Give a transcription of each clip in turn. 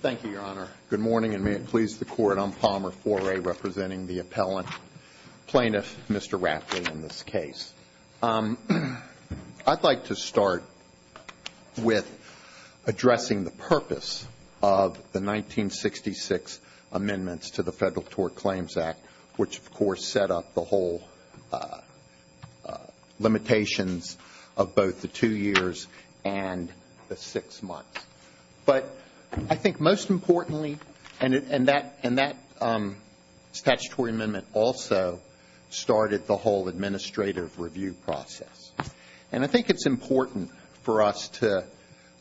Thank you, Your Honor. Good morning, and may it please the Court, I'm Palmer Foray, representing the appellant plaintiff, Mr. Rapley, in this case. I'd like to start with addressing the purpose of the 1966 amendments to the Federal Tort Claims Act, which of course set up the whole limitations of both the two years and the six months. But I think most importantly, and that statutory amendment also started the whole administrative review process. And I think it's important for us to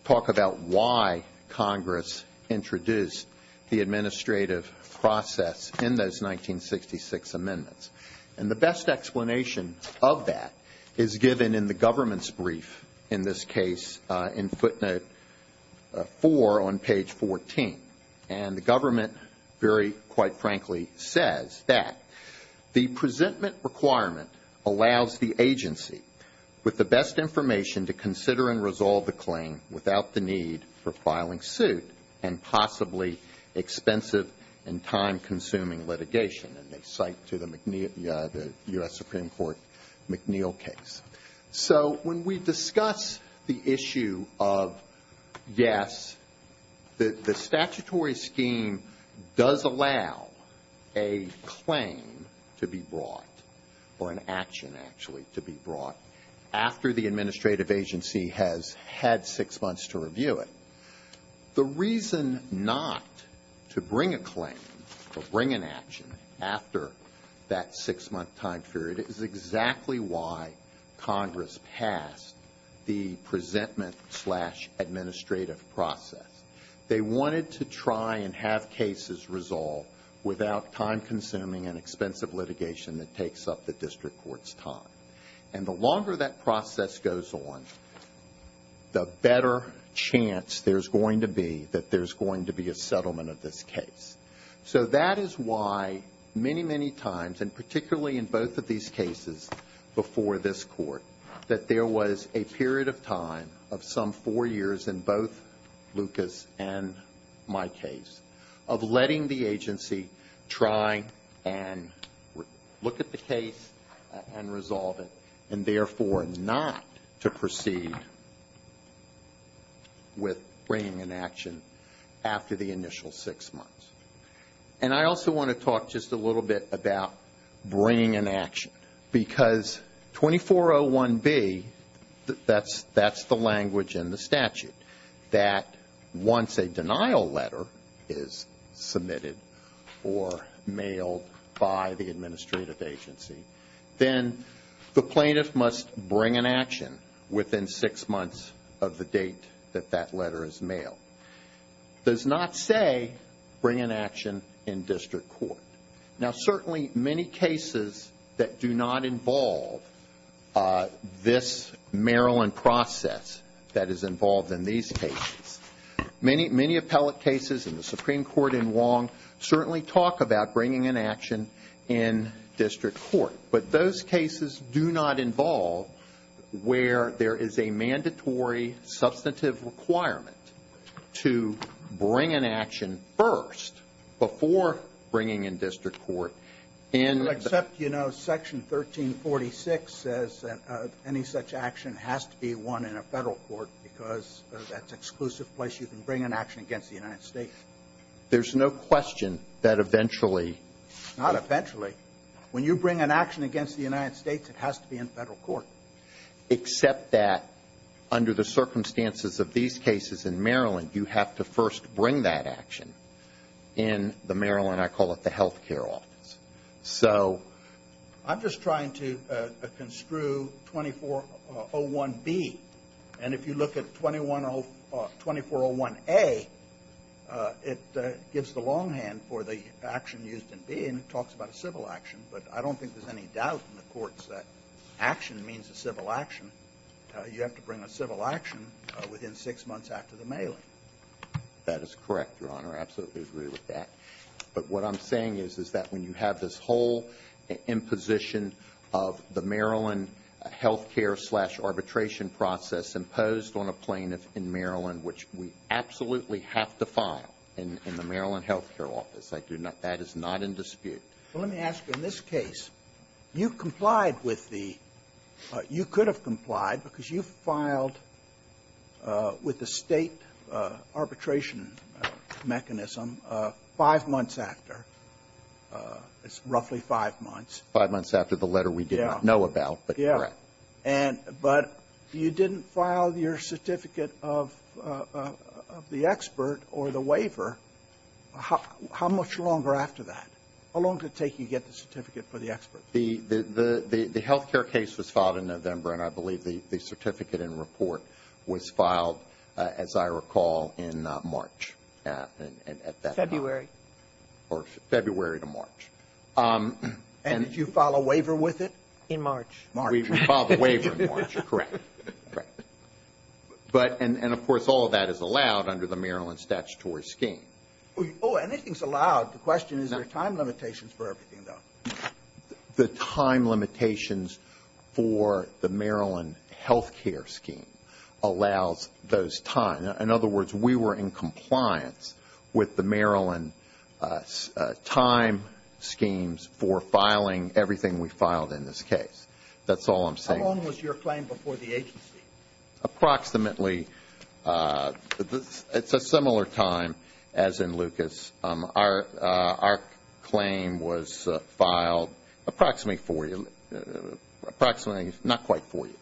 talk about why Congress introduced the administrative process in those 1966 amendments. And the best explanation of that is given in the government's brief in this case in footnote 4 on page 14. And the government very quite frankly says that the presentment requirement allows the agency with the best information to consider and resolve the claim without the need for filing suit and possibly expensive and time consuming litigation. And they cite to the U.S. Supreme Court McNeil case. So when we discuss the issue of yes, the statutory scheme does allow a claim to be brought, or an action actually to be brought, after the administrative agency has had six months to review it. The reason not to bring a claim or bring an action after that six month time period is exactly why Congress passed the presentment slash administrative process. They wanted to try and have cases resolved without time consuming and expensive litigation that takes up the most time. And the longer that process goes on, the better chance there's going to be that there's going to be a settlement of this case. So that is why many, many times and particularly in both of these cases before this court that there was a period of time of some four years in both Lucas and my case of letting the agency try and look at the case and resolve it and therefore not to proceed with bringing an action after the initial six months. And I also want to talk just a little bit about bringing an action because 2401B, that's the language in the statute, that once a denial letter is submitted or mailed by the administrative agency, then the plaintiff must bring an action within six months of the date that that letter is mailed. It does not say bring an action in district court. Now certainly many cases that do not involve this Maryland process that is involved in these cases, many appellate cases in the Supreme Court in Wong certainly talk about bringing an action in district court. But those cases do not involve where there is a mandatory substantive requirement to bring an action first before bringing in district court. Except, you know, section 1346 says that any such action has to be won in a Federal court because that's an exclusive place you can bring an action against the United States. There's no question that eventually Not eventually. When you bring an action against the United States, it has to be in Federal court. Except that under the circumstances of these cases in Maryland, you have to first bring that action in the Maryland, I call it the health care office. So I'm just trying to construe 2401B. And if you look at 2401A, it gives the longhand for the action used in B and it talks about a civil action. But I don't think there's any doubt in the courts that action means a civil action. You have to bring a civil action within six months after the mailing. That is correct, Your Honor. I absolutely agree with that. But what I'm saying is, is that when you have this whole imposition of the Maryland health care slash arbitration process imposed on a plaintiff in Maryland, which we absolutely have to file in the Maryland health care office, I do not – that is not in dispute. Well, let me ask you, in this case, you complied with the – you could have complied because you filed with the State arbitration mechanism five months after. It's roughly five months. Five months after the letter we did not know about, but correct. Yeah. And – but you didn't file your certificate of the expert or the waiver. How much longer after that? How long did it take you to get the certificate for the expert? The – the health care case was filed in November, and I believe the certificate and report was filed, as I recall, in March at that time. February. Or February to March. And did you file a waiver with it? In March. We filed a waiver in March. Correct. Correct. But – and, of course, all of that is allowed under the Maryland statutory scheme. Oh, anything's allowed. The question is, are there time limitations for everything, though? The time limitations for the Maryland health care scheme allows those time – in other words, we were in compliance with the Maryland time schemes for filing everything we filed in this case. That's all I'm saying. How long was your claim before the agency? Approximately – it's a similar time as in Lucas. Our claim was filed approximately four – approximately – not quite four years.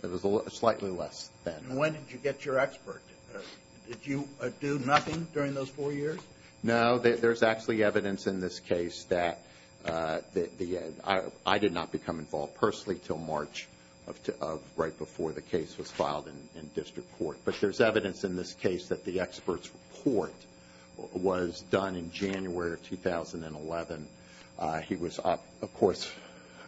It was slightly less than that. And when did you get your expert? Did you do nothing during those four years? No. There's actually evidence in this case that the – I did not become involved personally until March of – right before the case was filed in district court. But there's evidence in this case that the expert's report was done in January of 2011. He was, of course,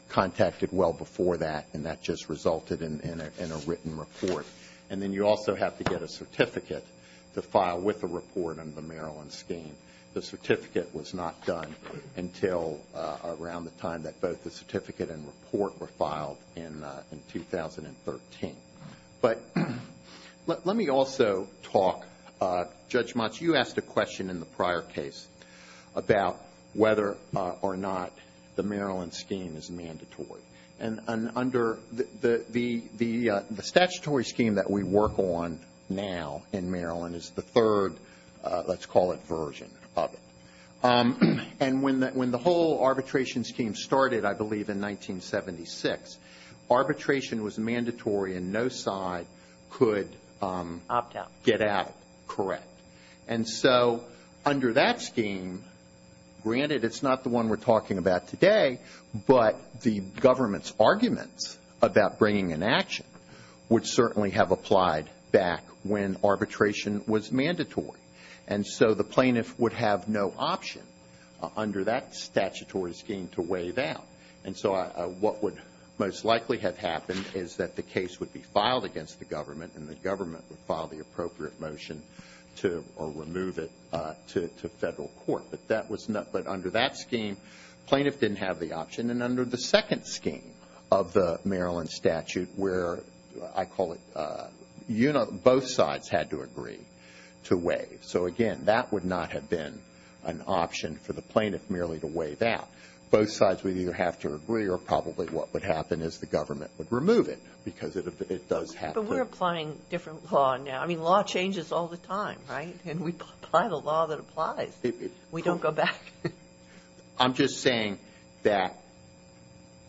contacted well before that, and that just resulted in a written report. And then you also have to get a certificate to file with a report under the Maryland scheme. The certificate was not done until around the time that both the certificate and report were filed in 2013. But let me also talk – Judge Motz, you asked a question in the prior case about whether or not the Maryland scheme is mandatory. And under the statutory scheme that we work on now in Maryland is the third, let's call it, version of it. And when the whole arbitration scheme started, I believe, in 1976, arbitration was mandatory and no side could get out correct. And so under that scheme, granted, it's not the one we're talking about today, but the government's arguments about bringing an action would certainly have applied back when arbitration was mandatory. And so the plaintiff would have no option under that statutory scheme to waive out. And so what would most likely have happened is that the case would be filed against the government and the government would file the appropriate motion to – or remove it to federal court. But that was not – but under that scheme, the plaintiff didn't have the option. And under the second scheme of the Maryland statute, where I call it – both sides had to agree to waive. So again, that would not have been an option for the plaintiff merely to waive out. Both sides would either have to agree or probably what would happen is the government would remove it because it does have to. But we're applying different law now. I mean, law changes all the time, right? And we apply the law that applies. We don't go back. I'm just saying that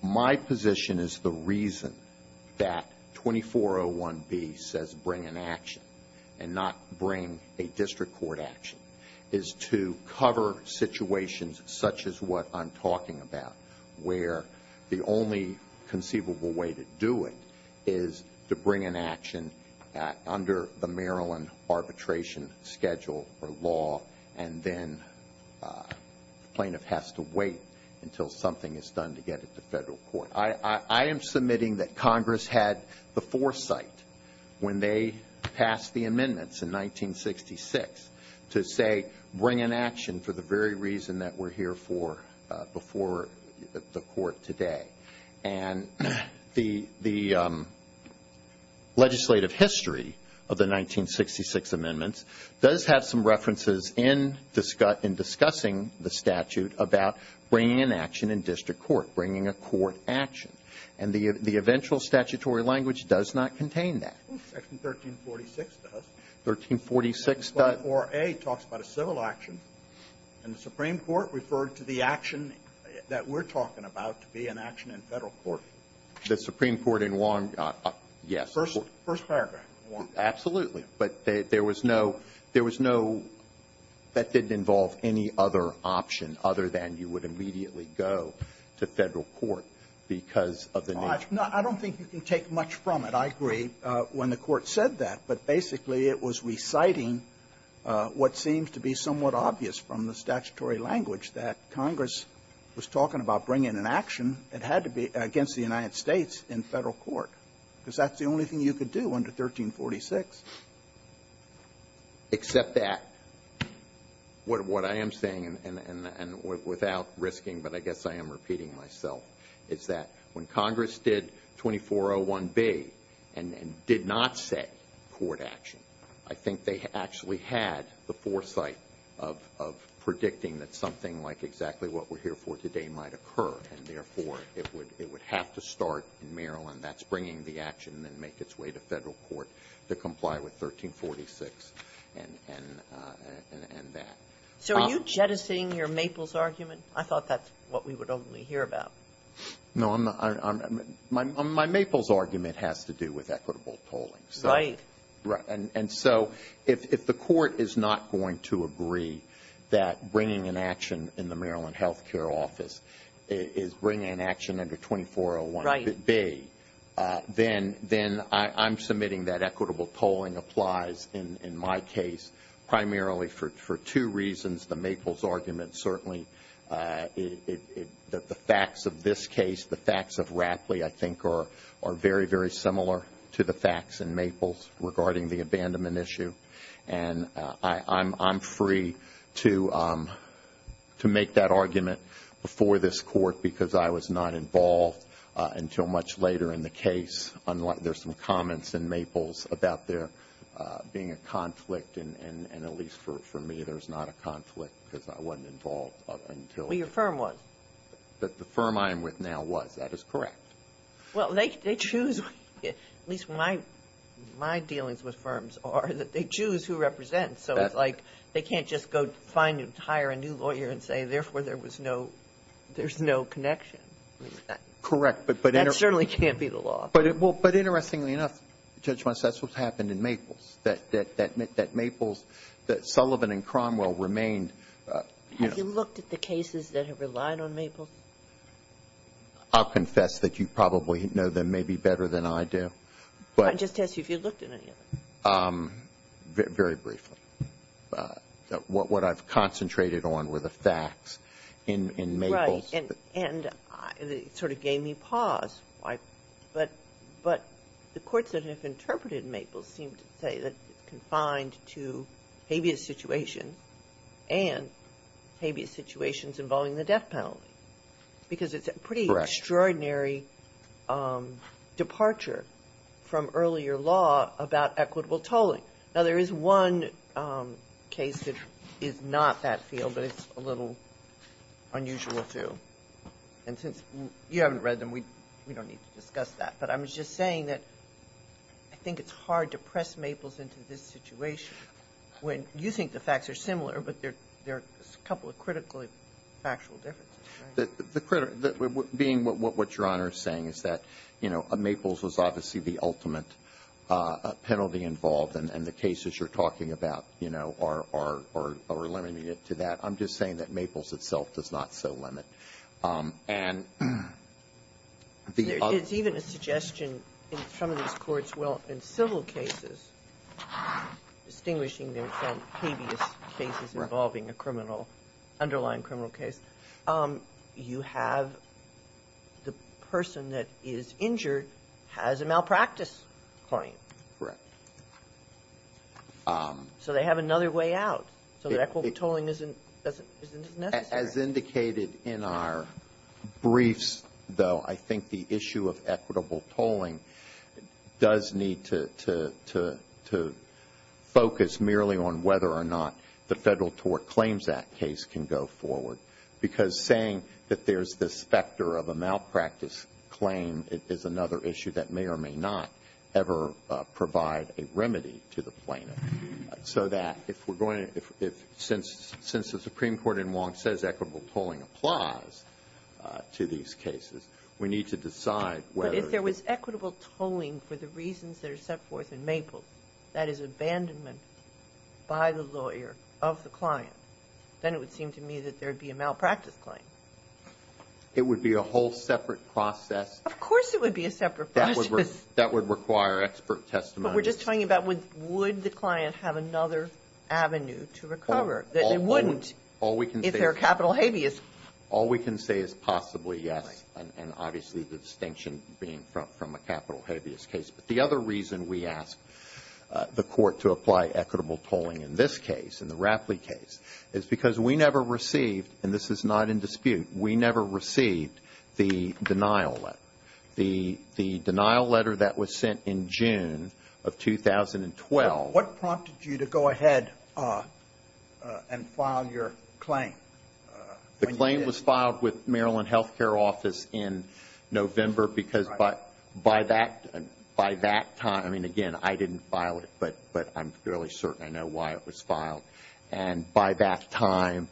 my position is the reason that 2401B says bring an action and not bring a district court action is to cover situations such as what I'm talking about, where the only conceivable way to do it is to bring an action under the Maryland arbitration schedule or law and then the plaintiff has to wait until something is done to get it to federal court. I am submitting that Congress had the foresight when they passed the amendments in 1966 to say bring an action for the very reason that we're here for before the court today. And the legislative history of the 1966 amendments does have some implications. Some references in discussing the statute about bringing an action in district court, bringing a court action. And the eventual statutory language does not contain that. Section 1346 does. 1346 does. Section 24A talks about a civil action and the Supreme Court referred to the action that we're talking about to be an action in federal court. The Supreme Court in Wong. Yes. First paragraph of Wong. Absolutely. But there was no that didn't involve any other option other than you would immediately go to federal court because of the nature. I don't think you can take much from it. I agree when the Court said that. But basically, it was reciting what seems to be somewhat obvious from the statutory language, that Congress was talking about bringing an action. It had to be against the United States in federal court, because that's the only thing you could do under 1346. Except that, what I am saying, and without risking, but I guess I am repeating myself, is that when Congress did 2401B and did not set court action, I think they actually had the foresight of predicting that something like exactly what we're here for today might occur, and therefore, it would have to start in Maryland. That's bringing the action and make its way to federal court to comply with 1346 and that. So, are you jettisoning your Maples argument? I thought that's what we would only hear about. No. My Maples argument has to do with equitable polling. Right. Right. And so, if the Court is not going to agree that bringing an action in the Maryland then I'm submitting that equitable polling applies in my case, primarily for two reasons. The Maples argument, certainly, the facts of this case, the facts of Rapley, I think, are very, very similar to the facts in Maples regarding the abandonment issue. And I'm free to make that argument before this Court, because I was not involved until much later in the case. There's some comments in Maples about there being a conflict, and at least for me, there's not a conflict because I wasn't involved until... Well, your firm was. The firm I am with now was. That is correct. Well, they choose, at least my dealings with firms are that they choose who represents. So, it's like they can't just go find and hire a new lawyer and say, therefore, there was no, there's no connection. Correct, but... That certainly can't be the law. But, interestingly enough, Judge Weiss, that's what's happened in Maples, that Maples, that Sullivan and Cromwell remained... Have you looked at the cases that have relied on Maples? I'll confess that you probably know them maybe better than I do, but... I'm just asking if you've looked at any of them. Very briefly. What I've concentrated on were the facts in Maples. Right, and it sort of gave me pause. But the courts that have interpreted Maples seem to say that it's confined to habeas situations and habeas situations involving the death penalty, because it's a pretty extraordinary departure from earlier law about equitable tolling. Now, there is one case that is not that field, but it's a little unusual, too. And since you haven't read them, we don't need to discuss that. But I was just saying that I think it's hard to press Maples into this situation when you think the facts are similar, but there are a couple of critically factual differences. The critical, being what Your Honor is saying is that, you know, there is a penalty involved, and the cases you're talking about, you know, are limiting it to that. I'm just saying that Maples itself does not so limit. And the other... It's even a suggestion in some of these courts, well, in civil cases, distinguishing them from habeas cases involving a criminal, underlying criminal case, you have the person that is injured has a malpractice client. Correct. So they have another way out, so that equitable tolling isn't necessary. As indicated in our briefs, though, I think the issue of equitable tolling does need to focus merely on whether or not the Federal Tort Claims Act case can go forward. Because saying that there's this factor of a malpractice claim is another issue that may or may not ever provide a remedy to the plaintiff. So that if we're going to, since the Supreme Court in Wong says equitable tolling applies to these cases, we need to decide whether... But if there was equitable tolling for the reasons that are set forth in Maples, that is abandonment by the lawyer of the client, then it would seem to me that there would be a malpractice claim. It would be a whole separate process. Of course it would be a separate process. That would require expert testimony. But we're just talking about would the client have another avenue to recover? That they wouldn't if they're capital habeas. All we can say is possibly yes, and obviously the distinction being from a capital habeas case. But the other reason we ask the Court to apply equitable tolling in this case, in the Rapley case, is because we never received, and this is not in dispute, we never received the denial letter. The denial letter that was sent in June of 2012... What prompted you to go ahead and file your claim? The claim was filed with Maryland Health Care Office in November because by that time... I mean, again, I didn't file it, but I'm fairly certain I know why it was filed. And by that time,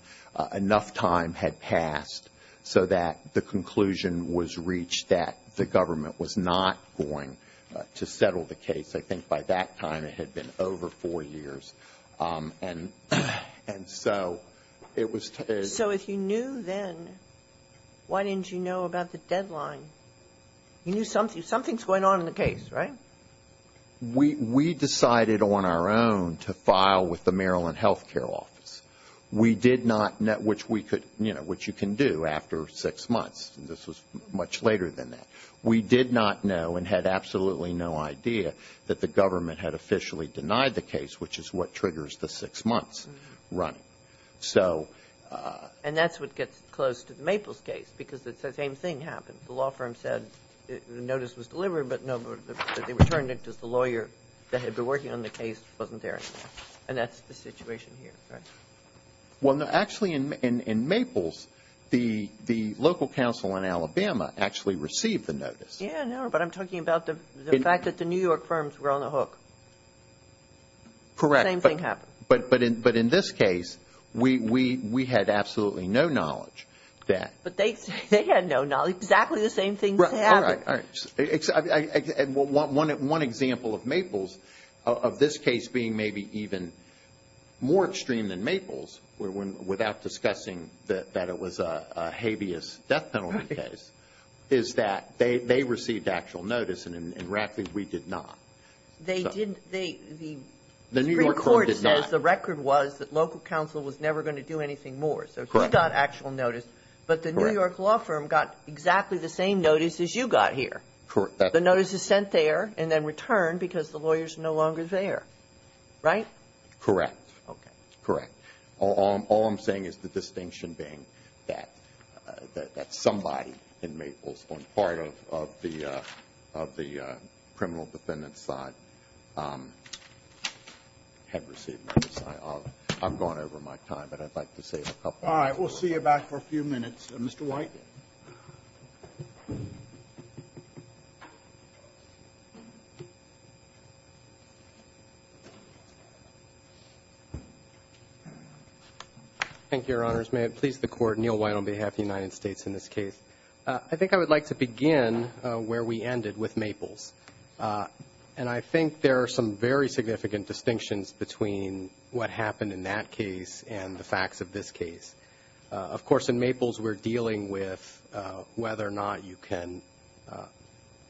enough time had passed so that the conclusion was reached that the government was not going to settle the case. I think by that time it had been over four years. And so it was... So if you knew then, why didn't you know about the deadline? You knew something's going on in the case, right? We decided on our own to file with the Maryland Health Care Office. We did not know, which we could, you know, which you can do after six months. This was much later than that. We did not know and had absolutely no idea that the government had officially denied the case, which is what triggers the six months running. So... And that's what gets close to the Maples case because it's the same thing happened. The law firm said the notice was delivered, but they returned it because the lawyer that had been working on the case wasn't there anymore. And that's the situation here, right? Well, no, actually in Maples, the local council in Alabama actually received the notice. Yeah, I know, but I'm talking about the fact that the New York firms were on the hook. Correct. The same thing happened. But in this case, we had absolutely no knowledge that... But they had no knowledge. Exactly the same thing happened. All right, all right. One example of Maples, of this case being maybe even more extreme than Maples, without discussing that it was a habeas death penalty case, is that they received actual notice and in Radcliffe, we did not. They didn't... The New York court did not. The New York court says the record was that local council was never going to do anything more. So he got actual notice, but the New York law firm got exactly the same notice as you got here. Correct. The notice is sent there and then returned because the lawyer is no longer there. Right? Correct. Okay. Correct. All I'm saying is the distinction being that somebody in Maples on part of the criminal defendants side had received notice. I've gone over my time, but I'd like to save a couple of minutes. All right, we'll see you back for a few minutes. Mr. White. Thank you, Your Honors. May it please the Court, Neil White on behalf of the United States in this case. I think I would like to begin where we ended with Maples. And I think there are some very significant distinctions between what happened in that case and the facts of this case. Of course, in Maples, we're dealing with whether or not you can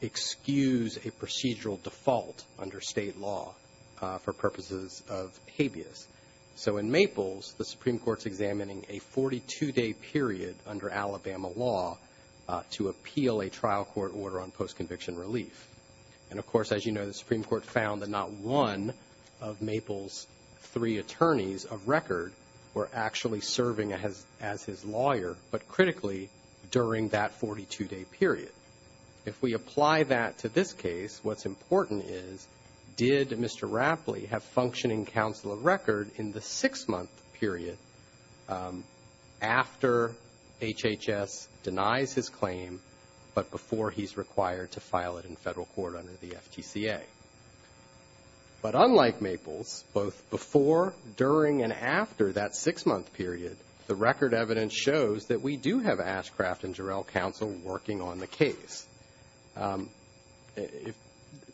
excuse a procedural default under state law for purposes of habeas. So in Maples, the Supreme Court's examining a 42-day period under Alabama law to appeal a trial court order on post-conviction relief. And of course, as you know, the Supreme Court found that not one of Maples' three attorneys of record were actually serving as his lawyer, but critically during that 42-day period. If we apply that to this case, what's important is, did Mr. Rapley have functioning counsel of record in the six-month period after HHS denies his claim, but before he's required to file it in federal court under the FTCA? But unlike Maples, both before, during, and after that six-month period, the record evidence shows that we do have Ashcraft and Jarrell counsel working on the case.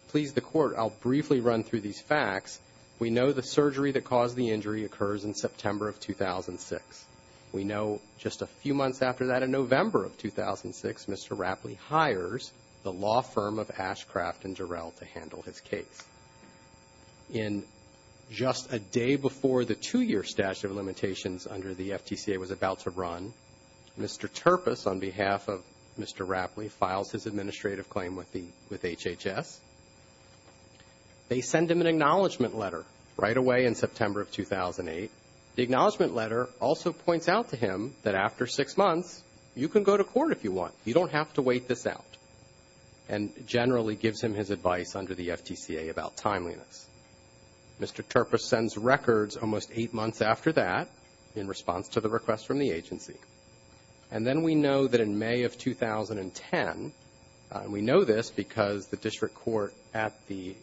Please the Court, I'll briefly run through these facts. We know the surgery that caused the injury occurs in September of 2006. We know just a few months after that, in November of 2006, Mr. Rapley hires the law firm of Ashcraft and Jarrell to handle his case. In just a day before the two-year statute of limitations under the FTCA was about to run, Mr. Turpus, on behalf of Mr. Rapley, files his administrative claim with HHS. They send him an acknowledgment letter right away in September of 2008. The acknowledgment letter also points out to him that after six months, you can go to court if you want, you don't have to wait this out, and generally gives him his advice under the FTCA about timeliness. Mr. Turpus sends records almost eight months after that, in response to the request from the agency. And then we know that in May of 2010, we know this because the district court at the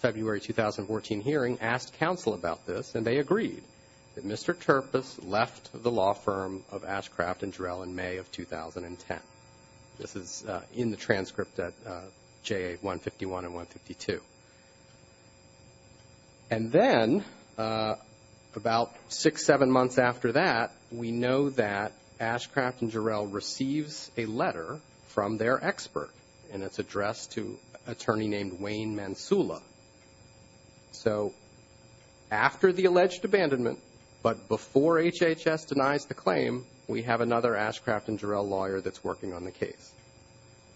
February 2014 hearing asked counsel about this, and they agreed, that Mr. Turpus left the law firm of Ashcraft and Jarrell in May of 2010. This is in the transcript at JA 151 and 152. And then, about six, seven months after that, we know that Ashcraft and Jarrell receives a letter from their expert, and it's addressed to an attorney named Wayne Mansula. So, after the alleged abandonment, but before HHS denies the claim, we have another Ashcraft and Jarrell lawyer that's working on the case.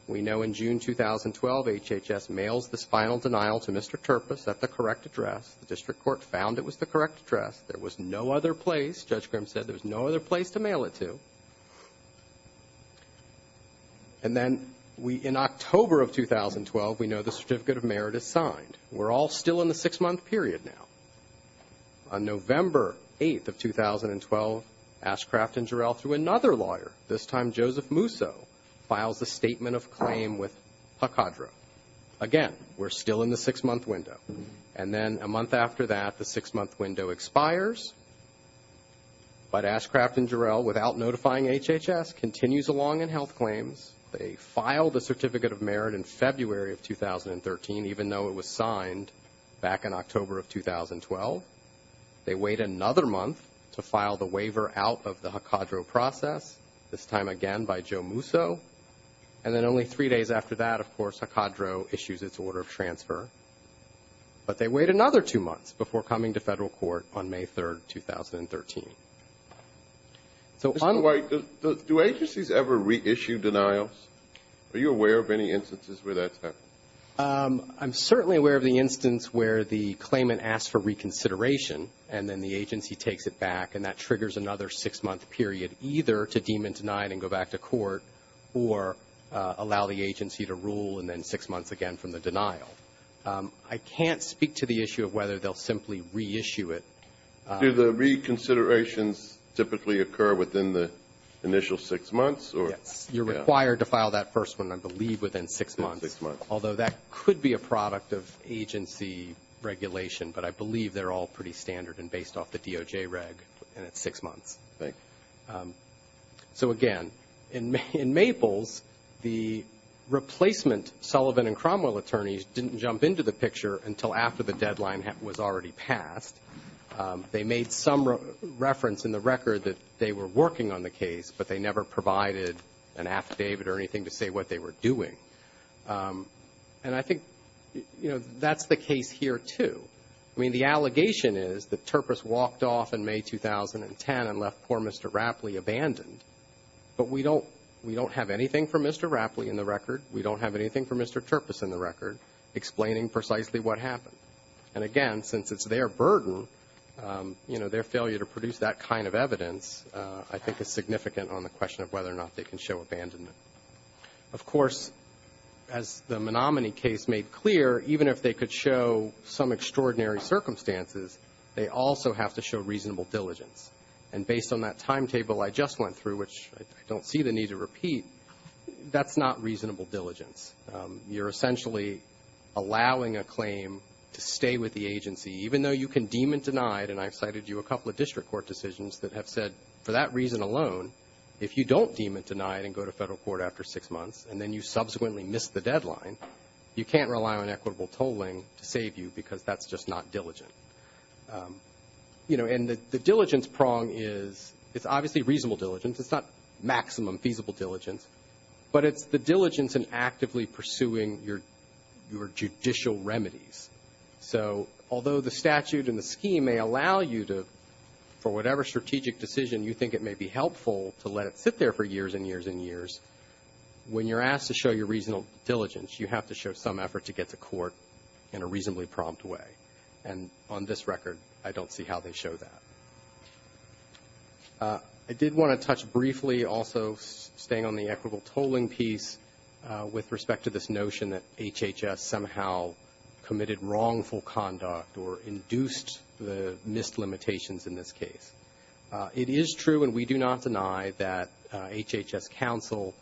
We know in June 2012, HHS mails this final denial to Mr. Turpus at the correct address. The district court found it was the correct address. There was no other place. Judge Grimm said there was no other place to mail it to. And then, in October of 2012, we know the Certificate of Merit is signed. We're all still in the six-month period now. On November 8th of 2012, Ashcraft and Jarrell, through another lawyer, this time Joseph Musso, files a statement of claim with PACADRO. Again, we're still in the six-month window. And then, a month after that, the six-month window expires. But Ashcraft and Jarrell, without notifying HHS, continues along in health claims. They file the Certificate of Merit in February of 2013, even though it was signed back in October of 2012. They wait another month to file the waiver out of the PACADRO process, this time again by Joe Musso. And then, only three days after that, of course, PACADRO issues its order of transfer. But they wait another two months before coming to Federal court on May 3rd, 2013. So on the way to the do agencies ever reissue denials? Are you aware of any instances where that's happened? I'm certainly aware of the instance where the claimant asks for reconsideration, and then the agency takes it back. And that triggers another six-month period, either to deem and deny it and go back to court, or allow the agency to rule, and then six months again from the denial. I can't speak to the issue of whether they'll simply reissue it. Do the reconsiderations typically occur within the initial six months? Yes. You're required to file that first one, I believe, within six months. Although that could be a product of agency regulation, but I believe they're all pretty standard and based off the DOJ reg, and it's six months. So again, in Maples, the replacement Sullivan and Cromwell attorneys didn't jump into the picture until after the deadline was already passed. They made some reference in the record that they were working on the case, but they never provided an affidavit or anything to say what they were doing. And I think, you know, that's the case here, too. I mean, the allegation is that Turpus walked off in May 2010 and left poor Mr. Rapley abandoned. But we don't have anything for Mr. Rapley in the record. We don't have anything for Mr. Turpus in the record explaining precisely what happened. And again, since it's their burden, you know, their failure to produce that kind of evidence I think is significant on the question of whether or not they can show abandonment. Of course, as the Menominee case made clear, even if they could show some extraordinary circumstances, they also have to show reasonable diligence. And based on that timetable I just went through, which I don't see the need to repeat, that's not reasonable diligence. You're essentially allowing a claim to stay with the agency, even though you can deem it denied. And I've cited you a couple of district court decisions that have said for that reason alone, if you don't deem it denied and go to Federal court after six months, and then you subsequently miss the deadline, you can't rely on equitable tolling to save you because that's just not diligent. You know, and the diligence prong is obviously reasonable diligence. It's not maximum feasible diligence. But it's the diligence in actively pursuing your judicial remedies. So although the statute and the scheme may allow you to, for whatever strategic decision you think it may be helpful to let it sit there for years and years and years, when you're asked to show your reasonable diligence, you have to show some effort to get to court in a reasonably prompt way. And on this record, I don't see how they show that. I did want to touch briefly also staying on the equitable tolling piece with respect to this notion that HHS somehow committed wrongful conduct or induced the missed limitations in this case. It is true and we do not deny that HHS counsel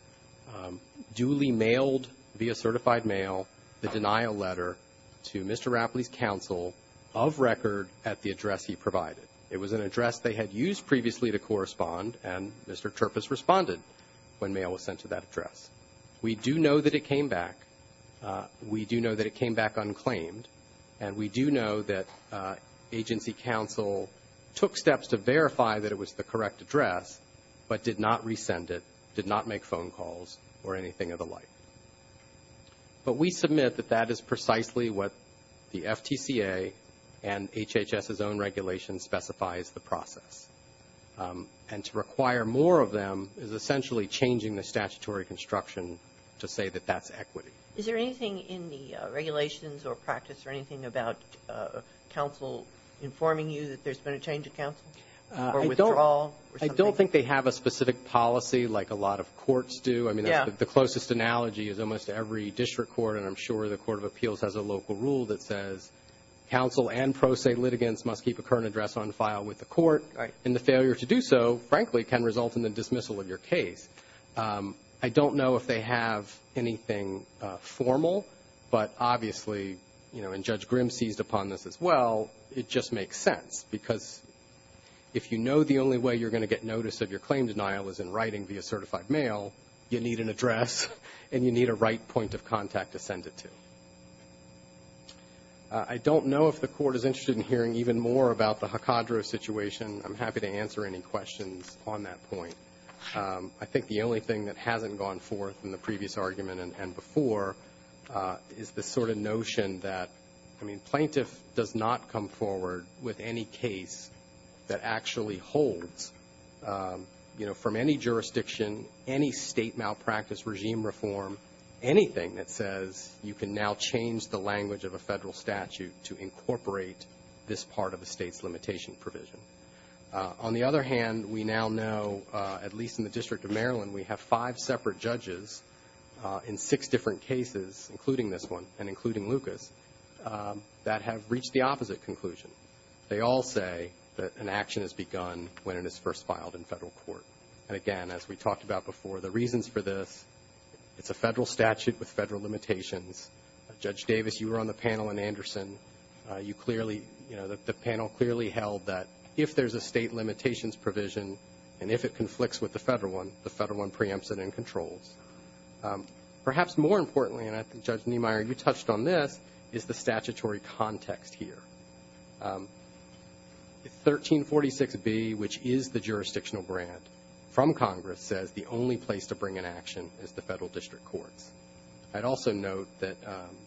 duly mailed via certified mail the denial letter to Mr. Rapley's counsel of record at the address he provided. It was an address they had used previously to correspond, and Mr. Turpass responded when mail was sent to that address. We do know that it came back. We do know that it came back unclaimed, and we do know that agency counsel took steps to verify that it was the correct address but did not resend it, did not make phone calls or anything of the like. But we submit that that is precisely what the FTCA and HHS's own regulation specifies the process. And to require more of them is essentially changing the statutory construction to say that that's equity. Is there anything in the regulations or practice or anything about counsel informing you that there's been a change of counsel or withdrawal? I don't think they have a specific policy like a lot of courts do. I mean, the closest analogy is almost every district court and I'm sure the Court of Appeals has a local rule that says counsel and pro se litigants must keep a current address on file with the court. And the failure to do so, frankly, can result in the dismissal of your case. I don't know if they have anything formal, but obviously, you know, and Judge Grimm seized upon this as well, it just makes sense because if you know the only way you're going to get notice of your certified mail, you need an address and you need a right point of contact to send it to. I don't know if the Court is interested in hearing even more about the Hacadro situation. I'm happy to answer any questions on that point. I think the only thing that hasn't gone forth in the previous argument and before is the sort of notion that, I mean, plaintiff does not come forward with any case that actually holds from any jurisdiction, any State malpractice regime reform, anything that says you can now change the language of a Federal statute to incorporate this part of the State's limitation provision. On the other hand, we now know at least in the District of Maryland, we have five separate judges in six different cases, including this one and including Lucas, that have reached the opposite conclusion. They all say that an action is begun when it is first filed in Federal court. And again, as we talked about before, the reasons for this, it's a Federal statute with Federal limitations. Judge Davis, you were on the panel in Anderson. You clearly, you know, the panel clearly held that if there's a State limitations provision and if it conflicts with the Federal one, the Federal one preempts it and controls. Perhaps more importantly, and I think Judge Niemeyer, you touched on this, is the statutory context here. If 1346B, which is the jurisdictional grant from Congress, says the only place to bring an action is the Federal District Courts, I'd also note that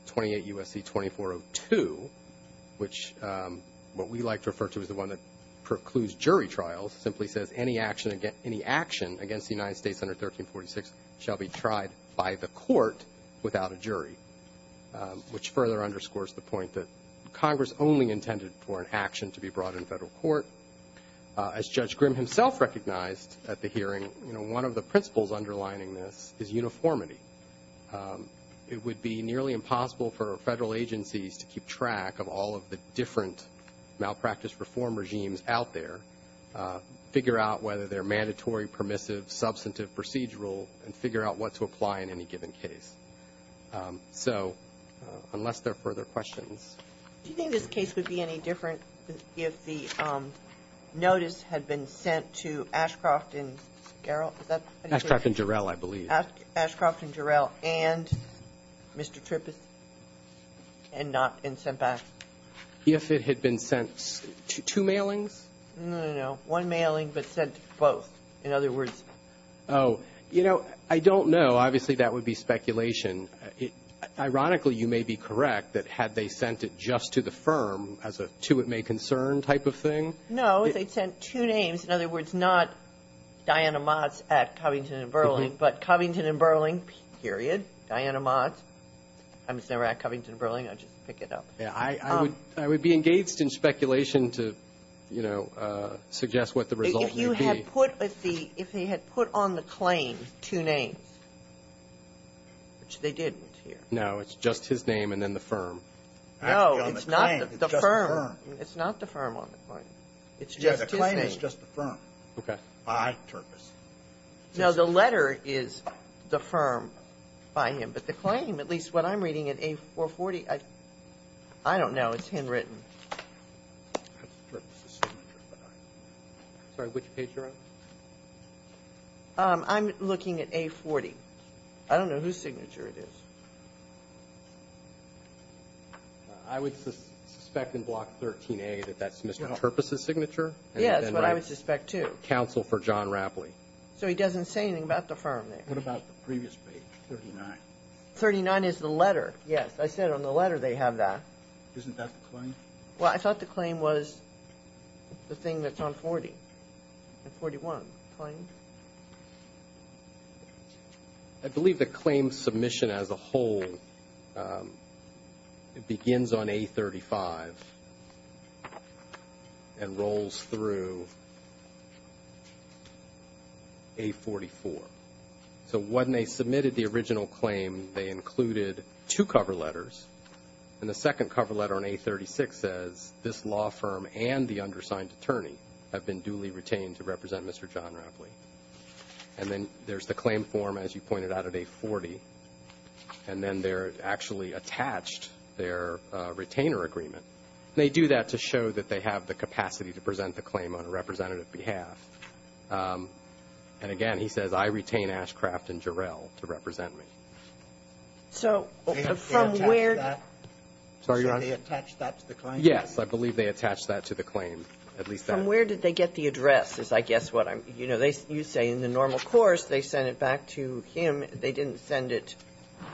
28 U.S.C. 2402, which what we like to refer to as the one that precludes jury trials, simply says any action against the United States under 1346 shall be tried by the court without a jury, which further underscores the point that Congress only intended for an action to be brought in Federal court. As Judge Grimm himself recognized at the hearing, you know, one of the principles underlining this is uniformity. It would be nearly impossible for Federal agencies to keep track of all of the different malpractice reform regimes out there, figure out whether they're mandatory, permissive, substantive, procedural, and figure out what to apply in any given case. So unless there are further questions. Do you think this case would be any different if the notice had been sent to Ashcroft and Garrell? Is that how you say it? Ashcroft and Jarrell, I believe. Ashcroft and Jarrell, and Mr. Trippeth, and not been sent back? If it had been sent to two mailings? No, no, no. One mailing, but sent to both, in other words. Oh. You know, I don't know. Obviously, that would be speculation. Ironically, you may be correct that had they sent it just to the firm as a to-it-may-concern type of thing. No. They sent two names. In other words, not Diana Motz at Covington & Burling, but Covington & Burling, period, Diana Motz. I was never at Covington & Burling. I'll just pick it up. I would be engaged in speculation to, you know, suggest what the results would be. If you had put at the – if they had put on the claim two names, which they didn't here. No. It's just his name and then the firm. No. It's not the firm. It's just the firm. It's not the firm on the claim. It's just his name. Yeah. The claim is just the firm. Okay. By Trippeth. No. The letter is the firm by him. But the claim, at least what I'm reading at A440, I don't know. It's handwritten. That's Trippeth's signature. Sorry. Which page you're on? I'm looking at A40. I don't know whose signature it is. I would suspect in Block 13A that that's Mr. Trippeth's signature. Yeah. That's what I would suspect, too. Counsel for John Rapley. So he doesn't say anything about the firm there. What about the previous page, 39? 39 is the letter. Yes. I said on the letter they have that. Isn't that the claim? Well, I thought the claim was the thing that's on 40 and 41, the claim. I believe the claim submission as a whole begins on A35 and rolls through A44. So when they submitted the original claim, they included two cover letters, and the second cover letter on A36 says this law firm and the undersigned attorney have been duly retained to represent Mr. John Rapley. And then there's the claim form, as you pointed out, at A40, and then they're actually attached their retainer agreement. They do that to show that they have the capacity to present the claim on a representative behalf. And, again, he says, I retain Ashcraft and Jarrell to represent me. So from where do they attach that to the claim? Yes. I believe they attach that to the claim, at least that. From where did they get the address is, I guess, what I'm you know, you say in the normal course they send it back to him. They didn't send it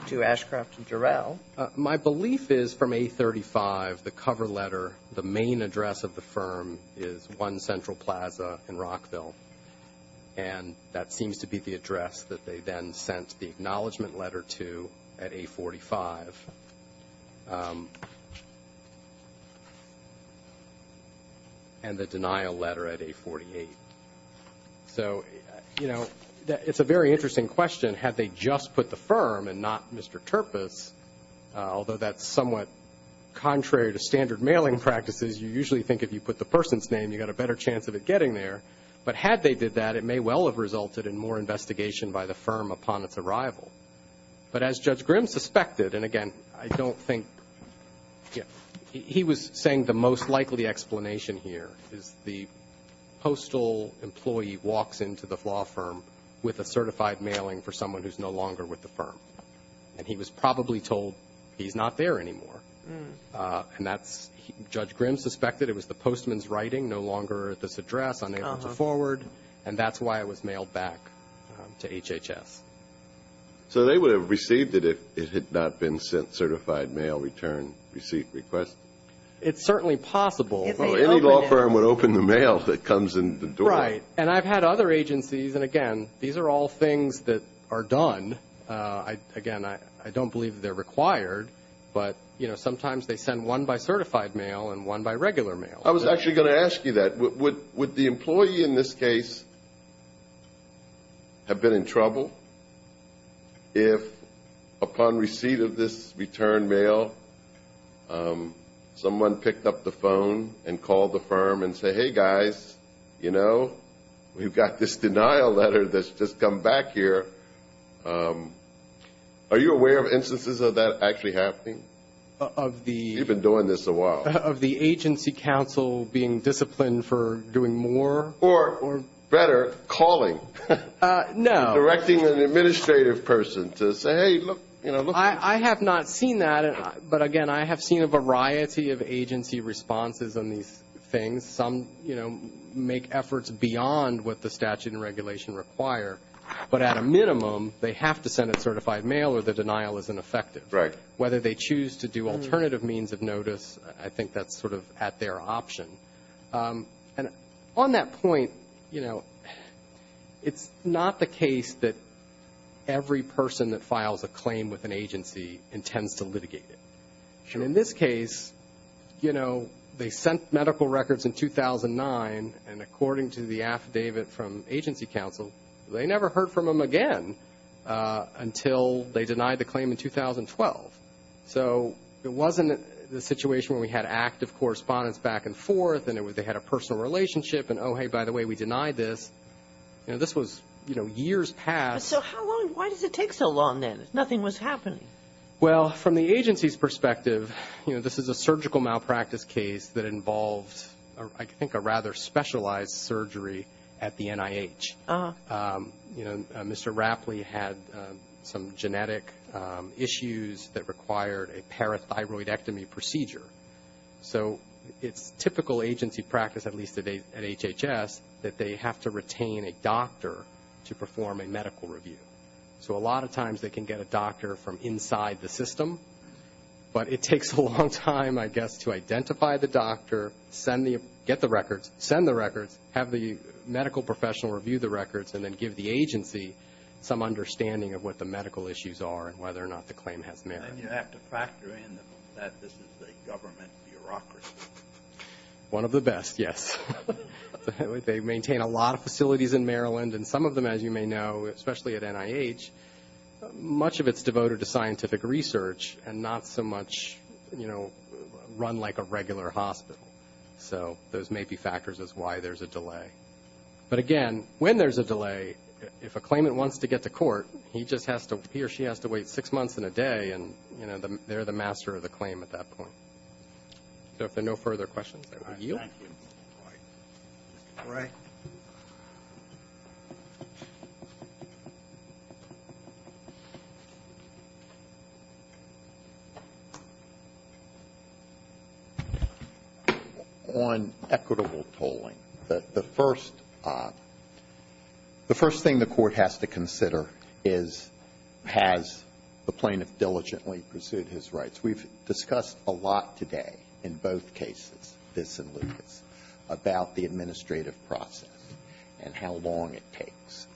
to Ashcraft and Jarrell. My belief is from A35, the cover letter, the main address of the firm is 1 Central Plaza in Rockville. And that seems to be the address that they then sent the acknowledgement letter to at A45. And the denial letter at A48. So, you know, it's a very interesting question. Had they just put the firm and not Mr. Turpus, although that's somewhat contrary to standard mailing practices, you usually think if you put the person's name, you've got a better chance of it getting there. But had they did that, it may well have resulted in more investigation by the firm upon its arrival. But as Judge Grimm suspected, and, again, I don't think he was saying the most likely explanation here is the postal employee walks into the law firm with a certified mailing for someone who's no longer with the firm. And he was probably told he's not there anymore. And that's, Judge Grimm suspected it was the postman's writing, no longer at this address, unable to forward. And that's why it was mailed back to HHS. So they would have received it if it had not been sent certified mail return receipt request? It's certainly possible. Well, any law firm would open the mail that comes in the door. Right. And I've had other agencies, and, again, these are all things that are done. Again, I don't believe they're required. But, you know, sometimes they send one by certified mail and one by regular mail. I was actually going to ask you that. Would the employee in this case have been in trouble if, upon receipt of this return mail, someone picked up the phone and called the firm and said, hey, guys, you know, we've got this denial letter that's just come back here. Are you aware of instances of that actually happening? You've been doing this a while. Of the agency counsel being disciplined for doing more. Or, better, calling. No. Directing an administrative person to say, hey, look. I have not seen that. But, again, I have seen a variety of agency responses on these things. Some, you know, make efforts beyond what the statute and regulation require. But at a minimum, they have to send it certified mail or the denial isn't effective. Right. Whether they choose to do alternative means of notice, I think that's sort of at their option. And on that point, you know, it's not the case that every person that files a claim with an agency intends to litigate it. Sure. And in this case, you know, they sent medical records in 2009, and according to the affidavit from agency counsel, they never heard from them again until they denied the claim in 2012. So it wasn't the situation where we had active correspondence back and forth and they had a personal relationship and, oh, hey, by the way, we denied this. You know, this was, you know, years past. So how long, why does it take so long then if nothing was happening? Well, from the agency's perspective, you know, this is a surgical malpractice case that involved, I think, a rather specialized surgery at the NIH. You know, Mr. Rapley had some genetic issues that required a parathyroidectomy procedure. So it's typical agency practice, at least at HHS, that they have to retain a doctor to perform a medical review. So a lot of times they can get a doctor from inside the system, but it takes a long time, I guess, to identify the doctor, get the records, send the records, have the medical professional review the records, and then give the agency some understanding of what the medical issues are and whether or not the claim has merit. And you have to factor in that this is a government bureaucracy. One of the best, yes. They maintain a lot of facilities in Maryland, and some of them, as you may know, especially at NIH, much of it's devoted to scientific research and not so much, you know, run like a regular hospital. So those may be factors as to why there's a delay. But, again, when there's a delay, if a claimant wants to get to court, he or she has to wait six months and a day, and, you know, they're the master of the claim at that point. So if there are no further questions, I will yield. Thank you. Mr. Gray. On equitable tolling, the first thing the Court has to consider is has the plaintiff diligently pursued his rights. We've discussed a lot today in both cases, this and Lucas, about the administrative process and how long it takes.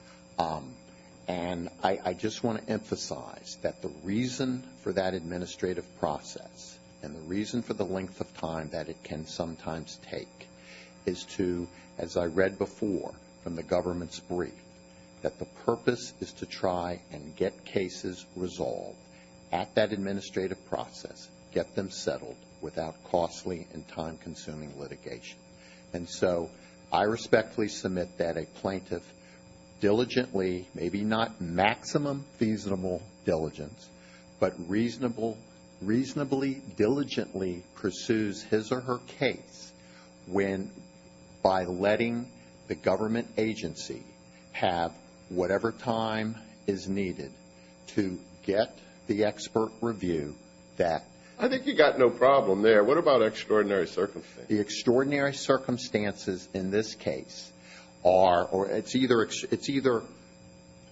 And I just want to emphasize that the reason for that administrative process and the reason for the length of time that it can sometimes take is to, as I read before from the government's brief, that the purpose is to try and get cases resolved at that administrative process, get them settled without costly and time-consuming litigation. And so I respectfully submit that a plaintiff diligently, maybe not maximum feasible diligence, but reasonably, diligently pursues his or her case when, by letting the government agency have whatever time is needed to get the expert review that. I think you've got no problem there. What about extraordinary circumstances? The extraordinary circumstances in this case are or it's either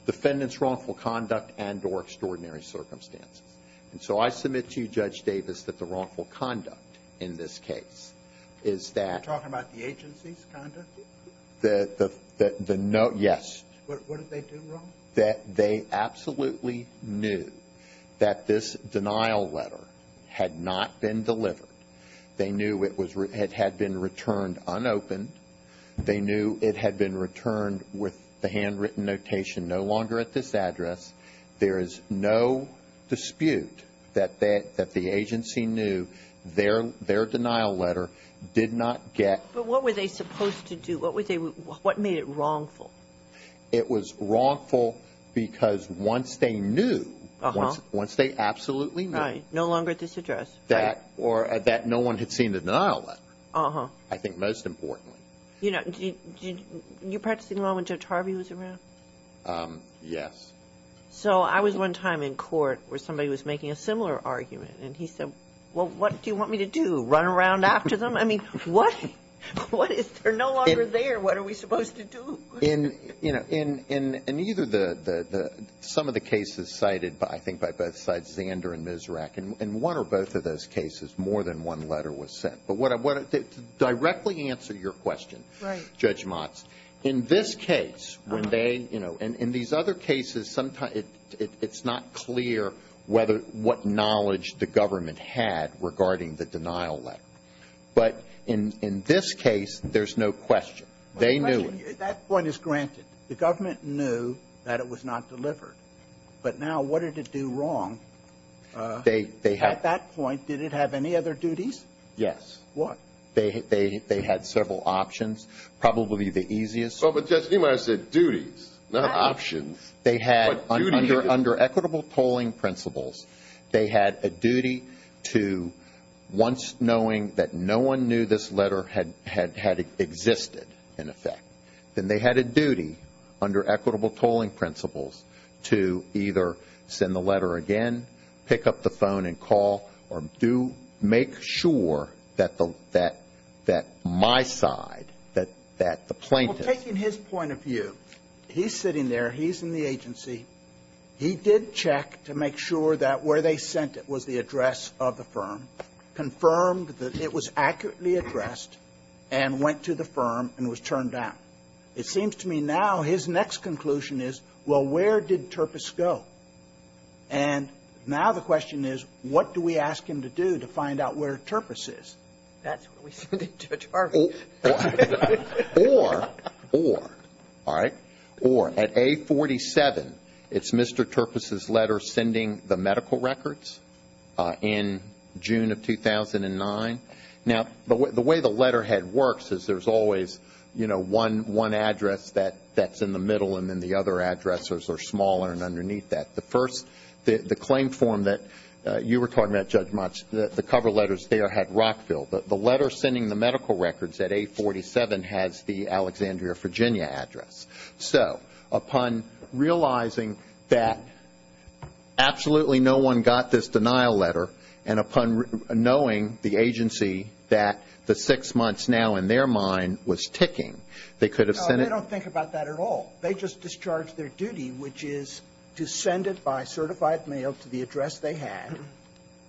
defendant's wrongful conduct and or extraordinary circumstances. And so I submit to you, Judge Davis, that the wrongful conduct in this case is that. Are you talking about the agency's conduct? Yes. What did they do wrong? They absolutely knew that this denial letter had not been delivered. They knew it had been returned unopened. They knew it had been returned with the handwritten notation, no longer at this address. There is no dispute that the agency knew their denial letter did not get. But what were they supposed to do? What made it wrongful? It was wrongful because once they knew, once they absolutely knew. Right. No longer at this address. That or that no one had seen the denial letter. Uh-huh. I think most importantly. You know, you practicing law when Judge Harvey was around? Yes. So I was one time in court where somebody was making a similar argument. And he said, well, what do you want me to do, run around after them? I mean, what is there no longer there? What are we supposed to do? In, you know, in either the, some of the cases cited, I think, by both sides, Zander and Misrach. In one or both of those cases, more than one letter was sent. But to directly answer your question, Judge Motz, in this case, when they, you know, in these other cases, sometimes it's not clear what knowledge the government had regarding the denial letter. They knew it. That point is granted. The government knew that it was not delivered. But now, what did it do wrong? They had. At that point, did it have any other duties? Yes. What? They had several options. Probably the easiest. But, Judge, you might have said duties, not options. They had, under equitable polling principles, they had a duty to, once knowing that no one knew this letter had existed, in effect, then they had a duty, under equitable polling principles, to either send the letter again, pick up the phone and call, or do make sure that the, that my side, that the plaintiff. Well, taking his point of view, he's sitting there. He's in the agency. He did check to make sure that where they sent it was the address of the firm, confirmed that it was accurately addressed, and went to the firm and was turned down. It seems to me now his next conclusion is, well, where did Turpes go? And now the question is, what do we ask him to do to find out where Turpes is? That's what we send to Judge Harvey. Or, or, all right, or, at A47, it's Mr. Turpes' letter sending the medical records in June of 2009. Now, the way the letterhead works is there's always, you know, one address that's in the middle, and then the other addresses are smaller and underneath that. The first, the claim form that you were talking about, Judge Matsch, the cover letters there had Rockville. The letter sending the medical records at A47 has the Alexandria, Virginia address. So upon realizing that absolutely no one got this denial letter, and upon knowing the agency that the six months now in their mind was ticking, they could have sent it. No, they don't think about that at all. They just discharge their duty, which is to send it by certified mail to the address they had.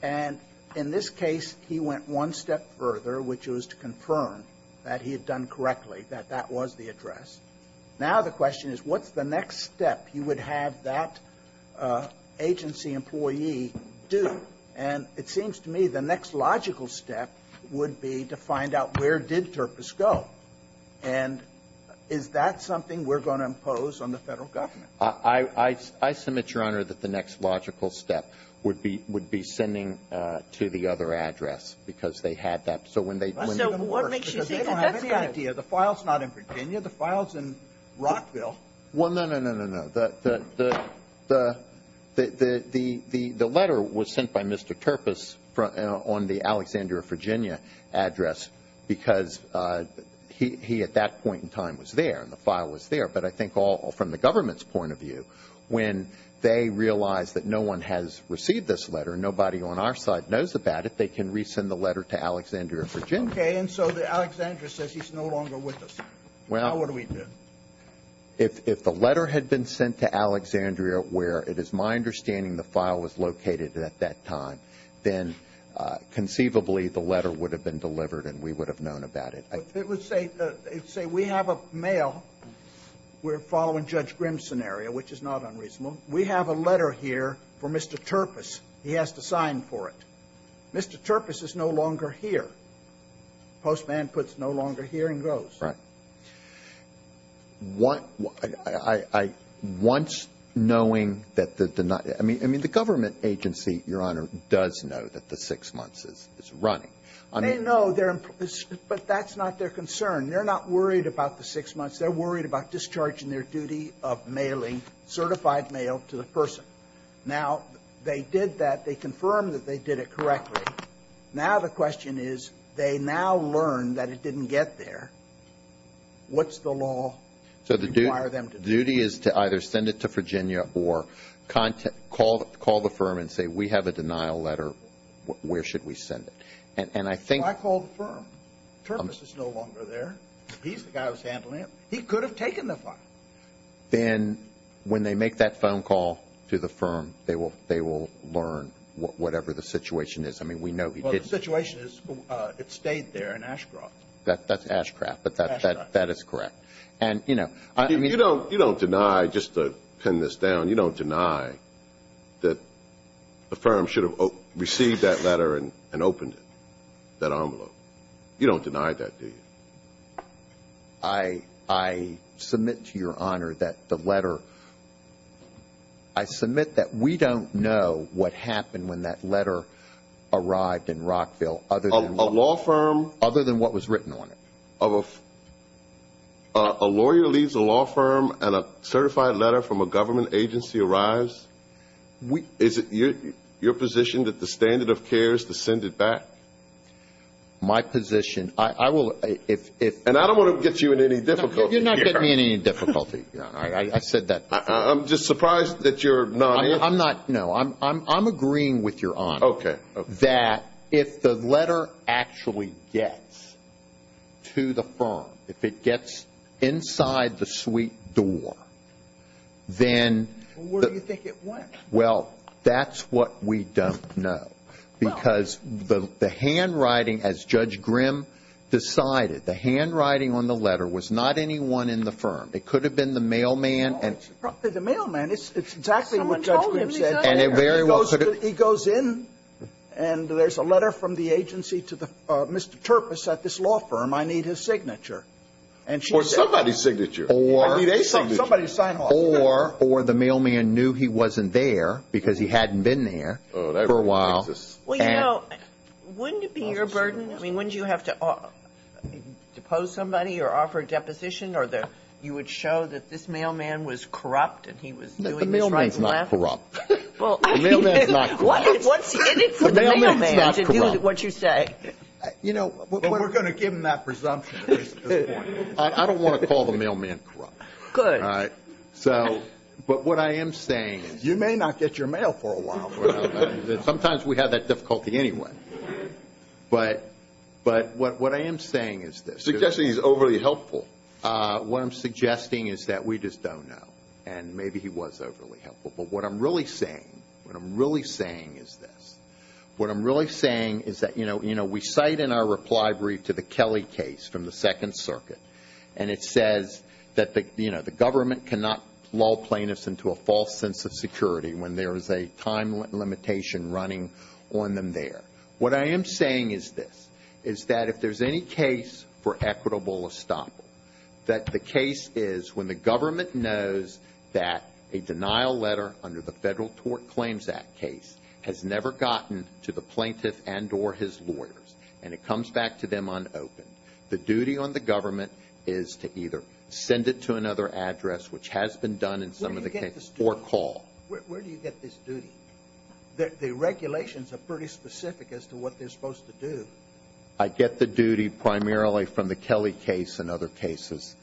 And in this case, he went one step further, which was to confirm that he had done correctly, that that was the address. Now the question is, what's the next step you would have that agency employee do? And it seems to me the next logical step would be to find out where did Turpes go, and is that something we're going to impose on the Federal government? I, I, I submit, Your Honor, that the next logical step would be, would be sending to the other address, because they had that. So when they, when they were. The file's not in Virginia. The file's in Rockville. Well, no, no, no, no, no. The, the, the, the, the, the, the letter was sent by Mr. Turpes on the Alexandria, Virginia address because he, he at that point in time was there, and the file was there. But I think all from the government's point of view, when they realize that no one has received this letter, nobody on our side knows about it, they can resend the letter to Alexandria, Virginia. Okay, and so the Alexandria says he's no longer with us. Well. Now what do we do? If, if the letter had been sent to Alexandria where it is my understanding the file was located at that time, then conceivably the letter would have been delivered and we would have known about it. It would say, it would say we have a mail. We're following Judge Grim's scenario, which is not unreasonable. We have a letter here for Mr. Turpes. He has to sign for it. Mr. Turpes is no longer here. Postman puts no longer here and goes. Right. I, I, I, once knowing that the, I mean, I mean, the government agency, Your Honor, does know that the six months is, is running. They know, but that's not their concern. They're not worried about the six months. They're worried about discharging their duty of mailing certified mail to the person. Now, they did that. They confirmed that they did it correctly. Now the question is, they now learn that it didn't get there. What's the law require them to do? So the duty is to either send it to Virginia or call, call the firm and say we have a denial letter. Where should we send it? And I think. Well, I called the firm. Turpes is no longer there. He's the guy who's handling it. He could have taken the file. Then when they make that phone call to the firm, they will, they will learn whatever the situation is. I mean, we know he did. Well, the situation is it stayed there in Ashcroft. That's Ashcroft, but that is correct. And, you know, I mean. You don't, you don't deny, just to pin this down, you don't deny that the firm should have received that letter and opened it, that envelope. You don't deny that, do you? I submit to your honor that the letter. I submit that we don't know what happened when that letter arrived in Rockville. A law firm. Other than what was written on it. A lawyer leaves a law firm and a certified letter from a government agency arrives. Is it your position that the standard of care is to send it back? My position. I will. And I don't want to get you in any difficulty. You're not getting me in any difficulty. I said that. I'm just surprised that you're not. I'm not. No, I'm agreeing with your honor. Okay. That if the letter actually gets to the firm, if it gets inside the suite door, then. Where do you think it went? Well, that's what we don't know. Because the handwriting, as Judge Grimm decided, the handwriting on the letter was not anyone in the firm. It could have been the mailman. The mailman. It's exactly what Judge Grimm said. And it very well could have. He goes in and there's a letter from the agency to Mr. Turpus at this law firm. I need his signature. Or somebody's signature. Or. Somebody's sign off. Or the mailman knew he wasn't there because he hadn't been there for a while. Well, you know, wouldn't it be your burden? I mean, wouldn't you have to depose somebody or offer a deposition? Or you would show that this mailman was corrupt and he was doing this right and left? The mailman's not corrupt. The mailman's not corrupt. And it's for the mailman to do what you say. You know, we're going to give him that presumption at this point. I don't want to call the mailman corrupt. Good. All right. But what I am saying is. You may not get your mail for a while. Sometimes we have that difficulty anyway. But what I am saying is this. Suggesting he's overly helpful. What I'm suggesting is that we just don't know. And maybe he was overly helpful. But what I'm really saying, what I'm really saying is this. What I'm really saying is that, you know, we cite in our reply brief to the Kelly case from the Second Circuit. And it says that, you know, the government cannot lull plaintiffs into a false sense of security when there is a time limitation running on them there. What I am saying is this. Is that if there's any case for equitable estoppel, that the case is when the government knows that a denial letter under the Federal Tort Claims Act case has never gotten to the plaintiff and or his lawyers. And it comes back to them unopened. The duty on the government is to either send it to another address, which has been done in some of the cases, or call. Where do you get this duty? The regulations are pretty specific as to what they're supposed to do. I get the duty primarily from the Kelly case and other cases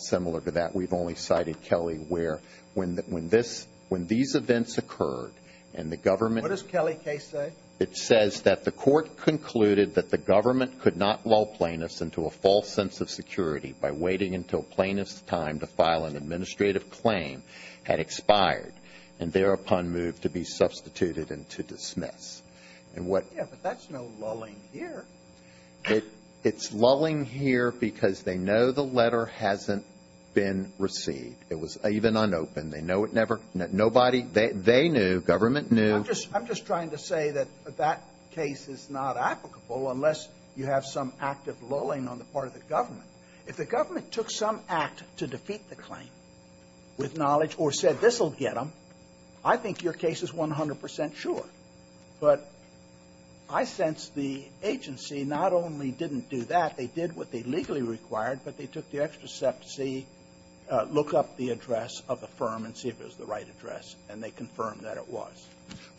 similar to that. We've only cited Kelly where when this, when these events occurred and the government. What does Kelly case say? It says that the court concluded that the government could not lull plaintiffs into a false sense of security by waiting until plaintiff's time to file an administrative claim had expired and thereupon moved to be substituted and to dismiss. And what. Yeah, but that's no lulling here. It's lulling here because they know the letter hasn't been received. It was even unopened. They know it never, nobody, they knew, government knew. I'm just trying to say that that case is not applicable unless you have some active lulling on the part of the government. If the government took some act to defeat the claim with knowledge or said this will get them, I think your case is 100 percent sure. But I sense the agency not only didn't do that, they did what they legally required, but they took the extra step to see, look up the address of the firm and see if it was the right address, and they confirmed that it was.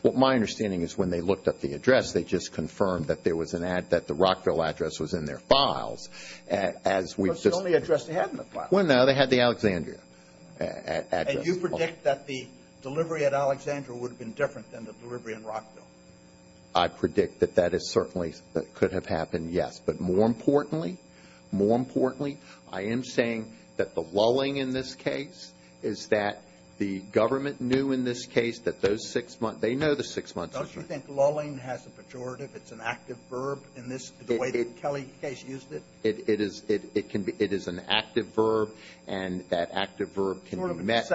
Well, my understanding is when they looked up the address, they just confirmed that there was an ad that the Rockville address was in their files as we've just. But it's the only address they had in the files. Well, no, they had the Alexandria address. And you predict that the delivery at Alexandria would have been different than the delivery in Rockville? I predict that that is certainly, could have happened, yes. But more importantly, more importantly, I am saying that the lulling in this case is that the government knew in this case that those six months, they know the six months. Don't you think lulling has a pejorative? It's an active verb in this, the way that Kelly's case used it? It is. It can be. It is an active verb, and that active verb can be met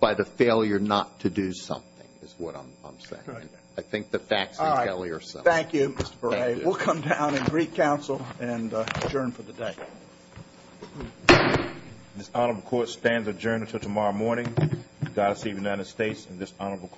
by the failure not to do something, is what I'm saying. Okay. I think the facts in Kelly are similar. All right. Thank you, Mr. Beret. Thank you. We'll come down and re-counsel and adjourn for the day. This Honorable Court stands adjourned until tomorrow morning. God save the United States and this Honorable Court.